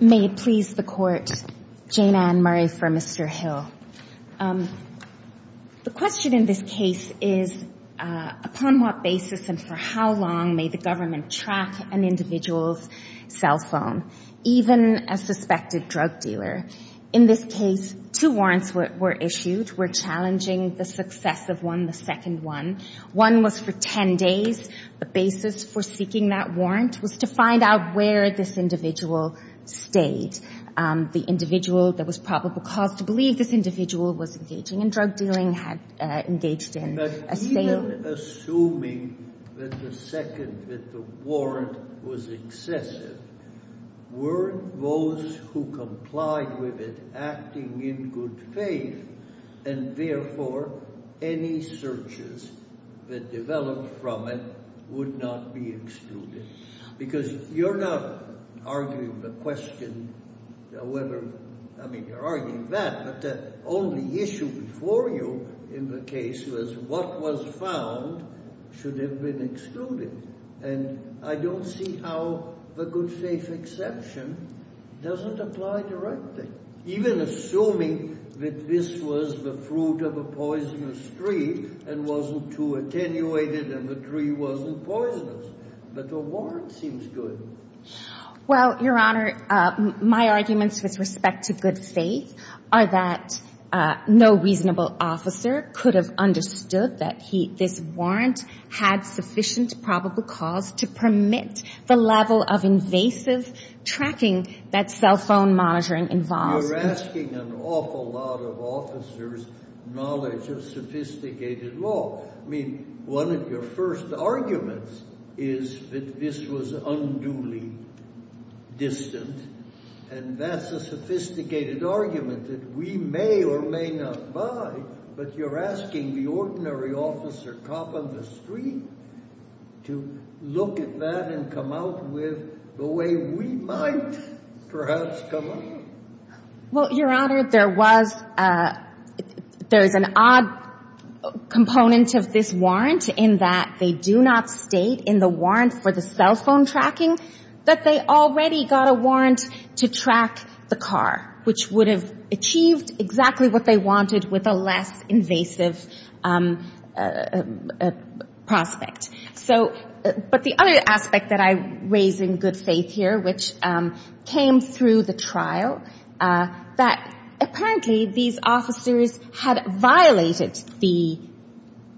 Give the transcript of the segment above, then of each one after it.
May it please the Court, Jane Ann Murray for Mr. Hill. The question in this case is upon what basis and for how long may the government track an individual's cell phone, even a suspected drug dealer? In this case, two warrants were issued. We're challenging the success of one, the second one. One was for 10 days. The basis for seeking that warrant was to find out where this individual stayed. The individual, there was probable cause to believe this individual was engaging in drug dealing, had engaged in a sale. But even assuming that the second, that the warrant was excessive, were those who complied with it acting in good faith and therefore any searches that developed from it would not be excluded? Because you're not arguing the question however, I mean you're arguing that, but the only issue before you in the case was what was found should have been excluded. And I don't see how the good faith exception doesn't apply directly. Even assuming that this was the fruit of a poisonous tree and wasn't too attenuated and the tree wasn't poisonous. But the warrant seems good. Well, your honor, my arguments with respect to good faith are that no reasonable officer could have understood that this warrant had sufficient probable cause to permit the level of invasive tracking that cell phone monitoring involves. You're asking an awful lot of officers' knowledge of sophisticated law. I mean, one of your first arguments is that this was unduly distant, and that's a sophisticated argument that we may or may not buy. But you're asking the ordinary officer cop on the street to look at that and come out with the way we might perhaps come out. Well, your honor, there was, there is an odd component of this warrant in that they do not state in the warrant for the cell phone tracking that they already got a warrant to track the car, which would have achieved exactly what they wanted with a less invasive prospect. So, but the other aspect that I raise in good faith here, which came through the trial, that apparently these officers had violated the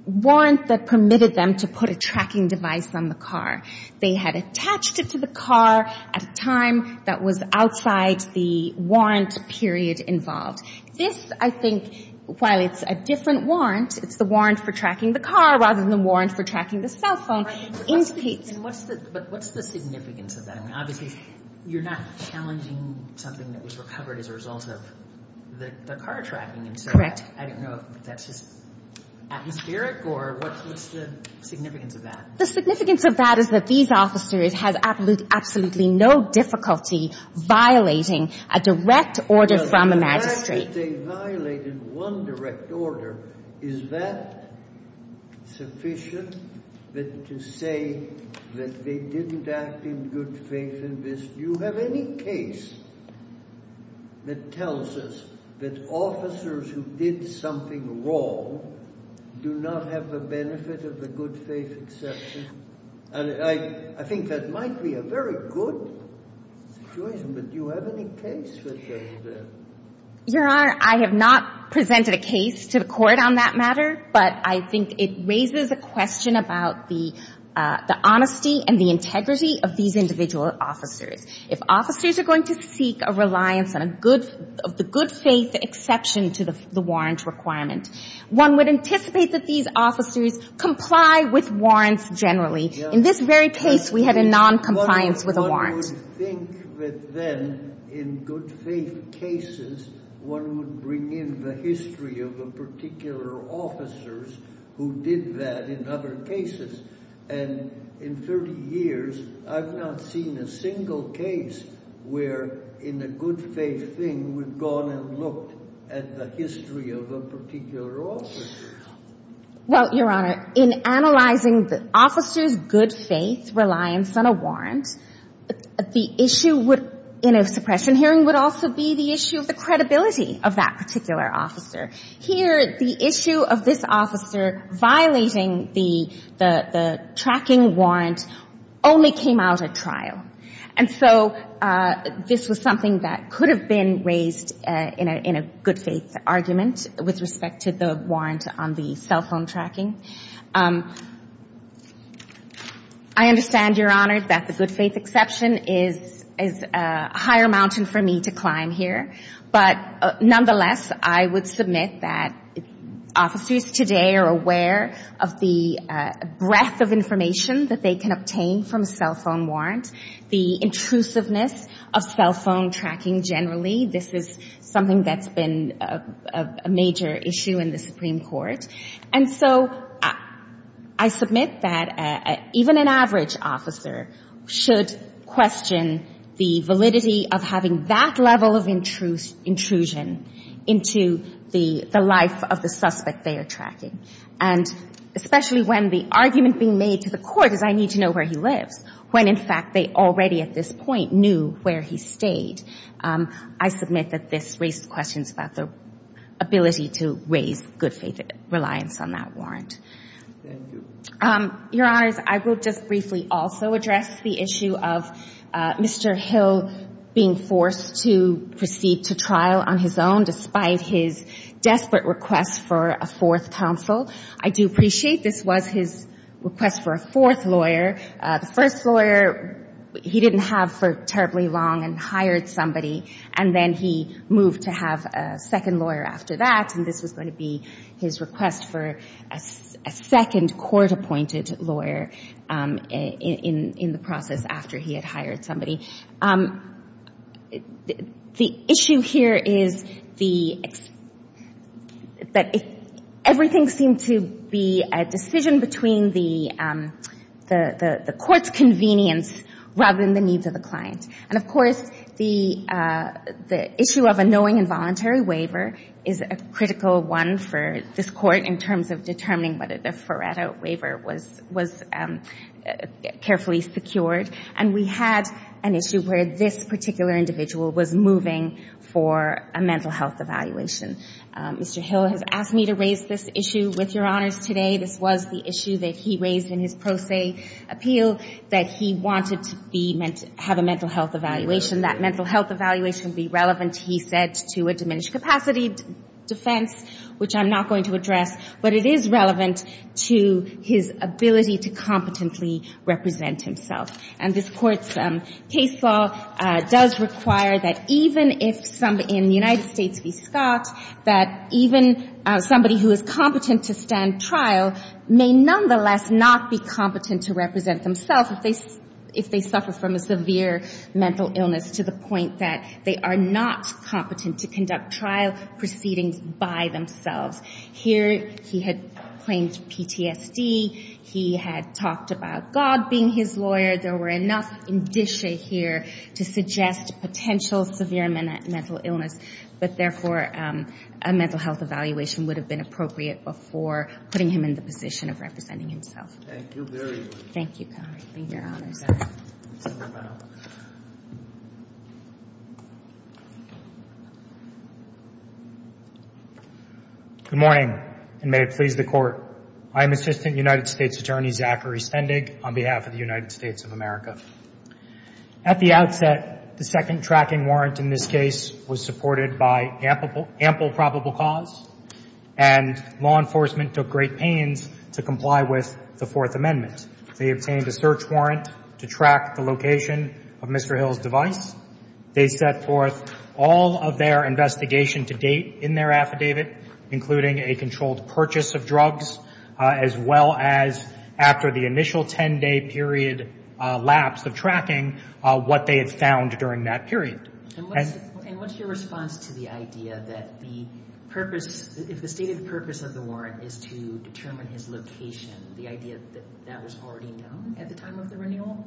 warrant that permitted them to put a tracking device on the car. They had attached it to the car at a time that was outside the warrant period involved. This, I think, while it's a different warrant, it's the warrant for tracking the car rather than the warrant for tracking the cell phone, indicates. But what's the significance of that? I mean, obviously, you're not challenging something that was recovered as a result of the car tracking. Correct. I don't know if that's just atmospheric or what's the significance of that? The significance of that is that these officers had absolutely no difficulty violating a direct order from a magistrate. The fact that they violated one direct order, is that sufficient to say that they didn't act in good faith in this? Do you have any case that tells us that officers who did something wrong do not have the benefit of the good faith exception? And I think that might be a very good situation, but do you have any case that does that? Your Honor, I have not presented a case to the court on that matter, but I think it raises a question about the honesty and the integrity of these individual officers. If officers are going to seek a reliance on a good of the good faith exception to the warrant requirement, one would anticipate that these officers comply with warrants generally. In this very case, we had a non-compliance with a warrant. One would think that then in good faith cases, one would bring in the history of the particular officers who did that in other cases. And in 30 years, I've not seen a single case where in a good faith thing, we've gone and looked at the history of a particular officer. Well, Your Honor, in analyzing the officer's good faith reliance on a warrant, the issue would, in a suppression hearing, would also be the issue of the credibility of that particular officer. Here, the issue of this officer violating the tracking warrant only came out at trial. And so this was something that could have been raised in a good faith argument with respect to the warrant on the cell phone tracking. I understand, Your Honor, that the good faith exception is a higher mountain for me to climb here. But nonetheless, I would submit that officers today are aware of the breadth of information that they can obtain from a cell phone warrant, the intrusiveness of cell phone tracking generally. This is something that's been a major issue in the Supreme Court. And so I submit that even an average officer should question the validity of having that level of intrusion into the life of the suspect they are tracking. And especially when the argument being made to the court is, I need to know where he when, in fact, they already at this point knew where he stayed. I submit that this raised questions about the ability to raise good faith reliance on that warrant. Your Honors, I will just briefly also address the issue of Mr. Hill being forced to proceed to trial on his own despite his desperate request for a fourth counsel. I do appreciate this was his request for a fourth lawyer. The first lawyer he didn't have for terribly long and hired somebody. And then he moved to have a second lawyer after that. And this was going to be his request for a second court-appointed lawyer in the process after he had hired somebody. The issue here is that everything seemed to be a decision between the court's convenience rather than the needs of the client. And, of course, the issue of a knowing involuntary waiver is a critical one for this court in terms of determining whether the Faretto case procured. And we had an issue where this particular individual was moving for a mental health evaluation. Mr. Hill has asked me to raise this issue with Your Honors today. This was the issue that he raised in his pro se appeal that he wanted to have a mental health evaluation. That mental health evaluation be relevant, he said, to a diminished capacity defense, which I'm not going to address. But it is relevant to his ability to competently represent himself. And this Court's case law does require that even if somebody in the United States be stopped, that even somebody who is competent to stand trial may nonetheless not be competent to represent themselves if they suffer from a severe mental illness to the point that they are not to conduct trial proceedings by themselves. Here he had claimed PTSD. He had talked about God being his lawyer. There were enough indicia here to suggest potential severe mental illness. But, therefore, a mental health evaluation would have been appropriate before putting him in the position of representing himself. Thank you very much. Thank you, Your Honors. Good morning, and may it please the Court. I am Assistant United States Attorney Zachary Stendig on behalf of the United States of America. At the outset, the second tracking warrant in this case was supported by ample probable cause, and law enforcement took great pains to comply with the Fourth Amendment. They obtained a search warrant to track the location of Mr. Hill's device. They set forth all of their investigation to date in their affidavit, including a controlled purchase of drugs, as well as after the initial 10-day period lapse of tracking, what they had found during that period. And what's your response to the idea that the purpose, if the stated warrant is to determine his location, the idea that that was already known at the time of the renewal?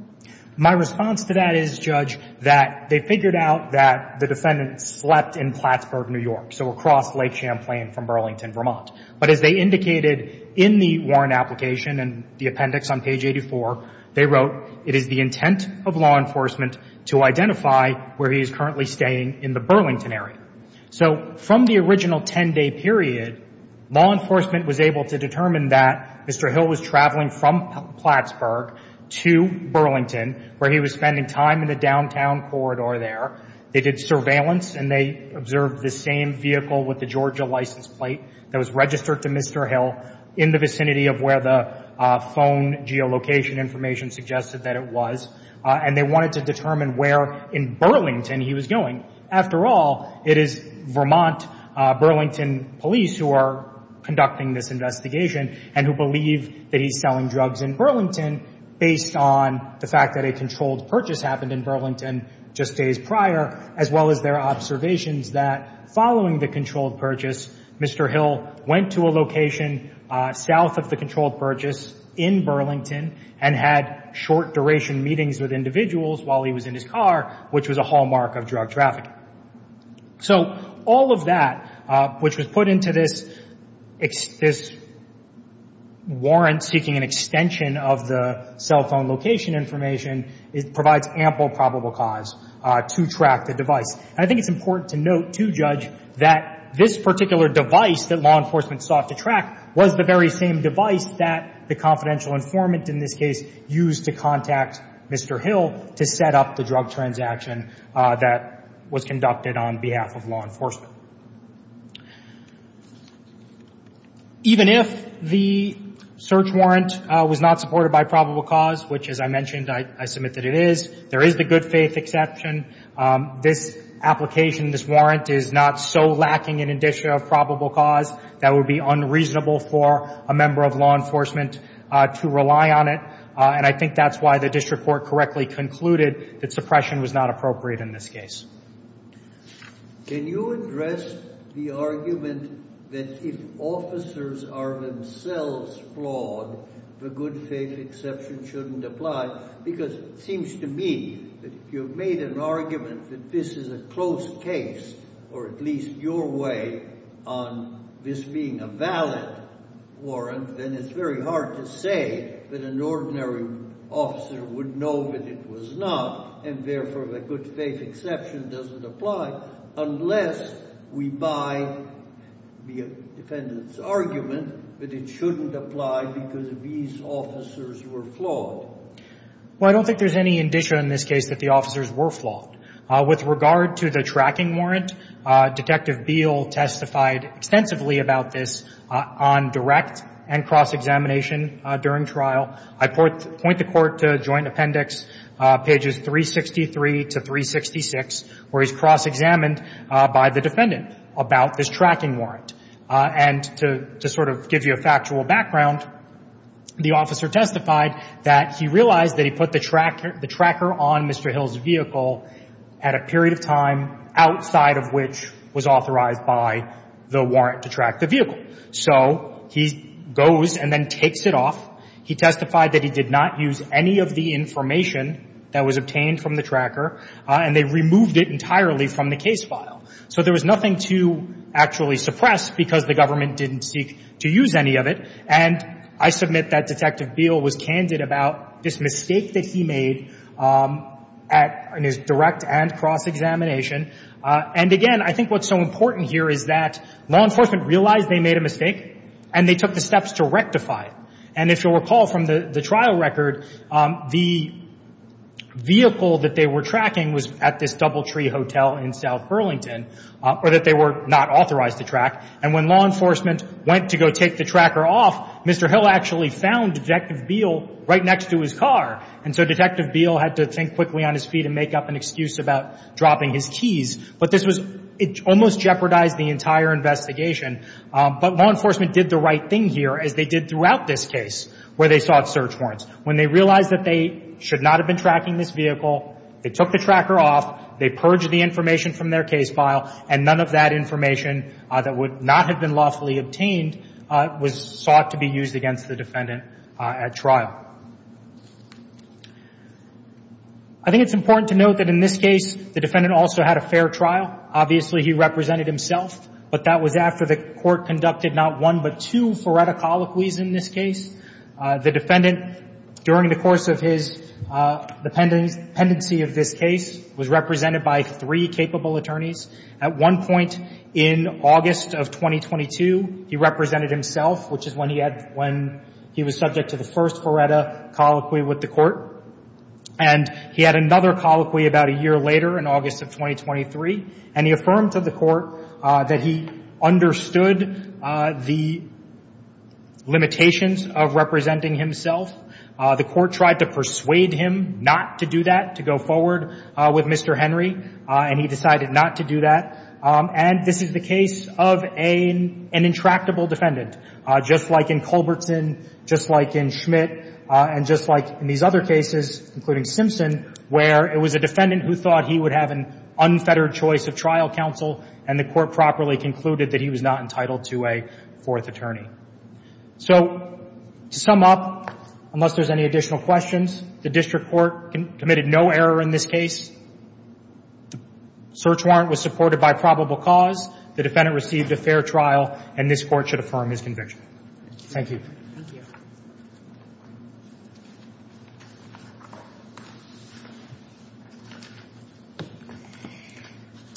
My response to that is, Judge, that they figured out that the defendant slept in Plattsburgh, New York, so across Lake Champlain from Burlington, Vermont. But as they indicated in the warrant application and the appendix on page 84, they wrote, it is the intent of law enforcement to identify where he is currently staying in the Burlington area. So from the original 10-day period, law enforcement was able to determine that Mr. Hill was traveling from Plattsburgh to Burlington, where he was spending time in the downtown corridor there. They did surveillance, and they observed the same vehicle with the Georgia license plate that was registered to Mr. Hill in the vicinity of where the phone geolocation information suggested that it was. And they wanted to determine where in Burlington he was going. After all, it is Vermont Burlington police who are conducting this investigation and who believe that he's selling drugs in Burlington based on the fact that a controlled purchase happened in Burlington just days prior, as well as their observations that following the controlled purchase, Mr. Hill went to a location south of the controlled purchase in Burlington and had short-duration meetings with individuals while he was in his car, which was a hallmark of drug trafficking. So all of that, which was put into this warrant seeking an extension of the cell phone location information, it provides ample probable cause to track the device. And I think it's important to note, to judge, that this particular device that law enforcement sought to track was the very same device that the confidential informant in this case used to contact Mr. Hill to set up the drug transaction that was conducted on behalf of law enforcement. Even if the search warrant was not supported by probable cause, which, as I mentioned, I submit that it is, there is the good faith exception. This application, this warrant is not so lacking in indicia of probable cause that would be unreasonable for a member of law enforcement to rely on it. And I think that's why the district court correctly concluded that suppression was not appropriate in this case. Can you address the argument that if officers are themselves flawed, the good faith exception shouldn't apply? Because it seems to me that if you've made an argument that this is a close case, or at least your way, on this being a valid warrant, then it's very hard to say that an ordinary officer would know that it was not, and therefore the good faith exception doesn't apply, unless we buy the defendant's argument that it shouldn't apply because these officers were flawed. Well, I don't think there's any indicia in this case that the officers were flawed. With regard to the tracking warrant, Detective Beal testified extensively about this on direct and cross-examination during trial. I point the Court to Joint Appendix pages 363 to 366, where he's cross-examined by the defendant about this tracking warrant. And to sort of give you a factual background, the officer testified that he realized that he put the tracker on Mr. Hill's vehicle at a period of time outside of which was authorized by the warrant to track the vehicle. So he goes and then takes it off. He testified that he did not use any of the information that was obtained from the tracker, and they removed it entirely from the case file. So there was nothing to actually suppress because the government didn't seek to use any of it. And I submit that Detective Beal was candid about this mistake that he made at his direct and cross-examination. And again, I think what's so important here is that law enforcement realized they made a mistake, and they took the steps to rectify it. And if you'll recall from the trial record, the vehicle that they were tracking was at this Doubletree Hotel in South Burlington, or that they were not authorized to track. And when law enforcement went to go take the tracker off, Mr. Hill actually found Detective Beal right next to his car. And so Detective Beal had to think quickly on his feet and make up an excuse about dropping his keys. But this was, it almost jeopardized the entire investigation. But law enforcement did the right here as they did throughout this case where they sought search warrants. When they realized that they should not have been tracking this vehicle, they took the tracker off, they purged the information from their case file, and none of that information that would not have been lawfully obtained was sought to be used against the defendant at trial. I think it's important to note that in this case, the defendant also had a fair trial. Obviously, he represented himself, but that was after the Court conducted not one but two Faretta colloquies in this case. The defendant, during the course of his dependency of this case, was represented by three capable attorneys. At one point in August of 2022, he represented himself, which is when he had, when he was subject to the first Faretta colloquy with the Court. And he had another colloquy about a year later in August of 2023. And he affirmed to the Court that he understood the limitations of representing himself. The Court tried to persuade him not to do that, to go forward with Mr. Henry, and he decided not to do that. And this is the case of an intractable defendant, just like in Culbertson, just like in Schmidt, and just like in these other cases, including Simpson, where it was a defendant who thought he would have an unfettered of trial counsel, and the Court properly concluded that he was not entitled to a fourth attorney. So, to sum up, unless there's any additional questions, the District Court committed no error in this case. The search warrant was supported by probable cause. The defendant received a fair trial, and this Court should affirm his conviction. Thank you.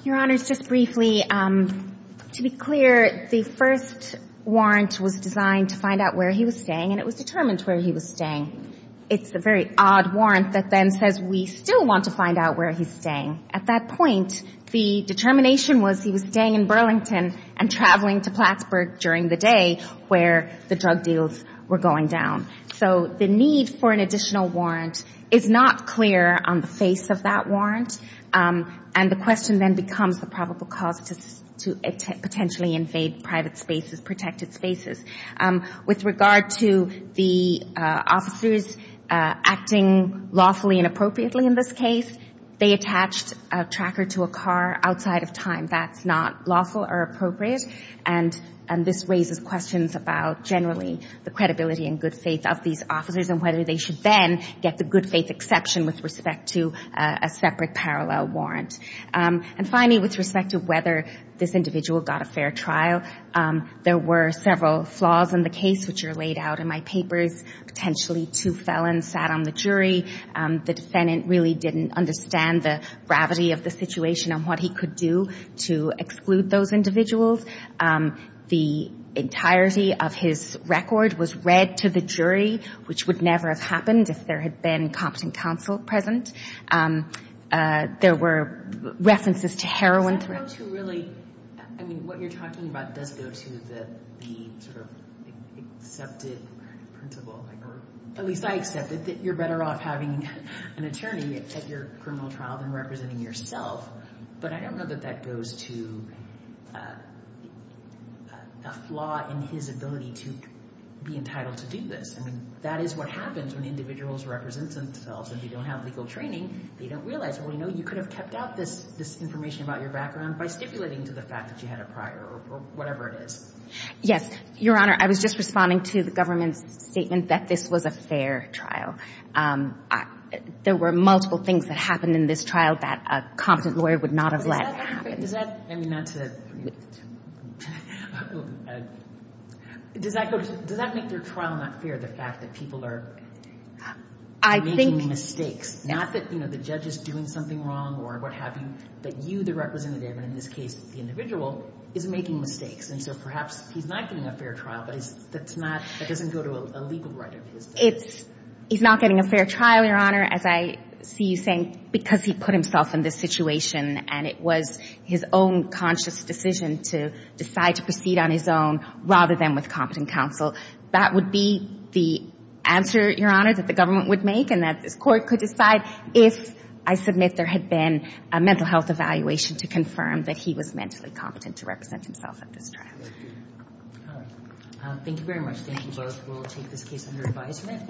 Your Honors, just briefly, to be clear, the first warrant was designed to find out where he was staying, and it was determined where he was staying. It's a very odd warrant that then says we still want to find out where he's staying. At that point, the determination was he was staying in Burlington and traveling to Plattsburgh during the day where the drug deals were going down. So, the need for an additional warrant is not clear on the face of that warrant, and the question then becomes the probable cause to potentially invade private spaces, protected spaces. With regard to the officers acting lawfully and appropriately in this case, they attached a tracker to a car outside of time. That's not lawful or appropriate, and this raises questions about generally the credibility and good faith of these officers and whether they should then get the good faith exception with respect to a separate parallel warrant. And finally, with respect to whether this individual got a fair trial, there were several flaws in the case which are laid out in my papers. Potentially two felons sat on the jury. The defendant really didn't understand the gravity of the situation and what he could do to exclude those individuals. The entirety of his record was read to the jury, which would never have happened if there had been competent counsel present. There were references to heroin and cocaine. What you're talking about does go to the sort of accepted principle, at least I accept it, that you're better off having an attorney at your criminal trial than representing yourself, but I don't know that that goes to a flaw in his ability to be entitled to do this. I mean, that is what happens when individuals represent themselves. If you don't have legal training, they don't realize, well, you know, in some sense, this was a fair trial. And they're not making any mistakes. It's not that, you know, the judge is doing something wrong or what have you, that you, the representative, and in this case, the individual, is making mistakes. And so perhaps he's not getting a fair trial, but that's not — that doesn't go to a legal right of his. It's — he's not getting a fair trial, Your Honor, as I see you saying, because he put himself in this situation and it was his own conscious decision to decide to proceed on his own rather than with competent counsel. That would be the answer, Your Honor, that the government would make and that this court could decide if, I submit, there had been a mental health evaluation to confirm that he was mentally competent to represent himself at this trial. Thank you very much. Thank you both. We'll take this case under advisement.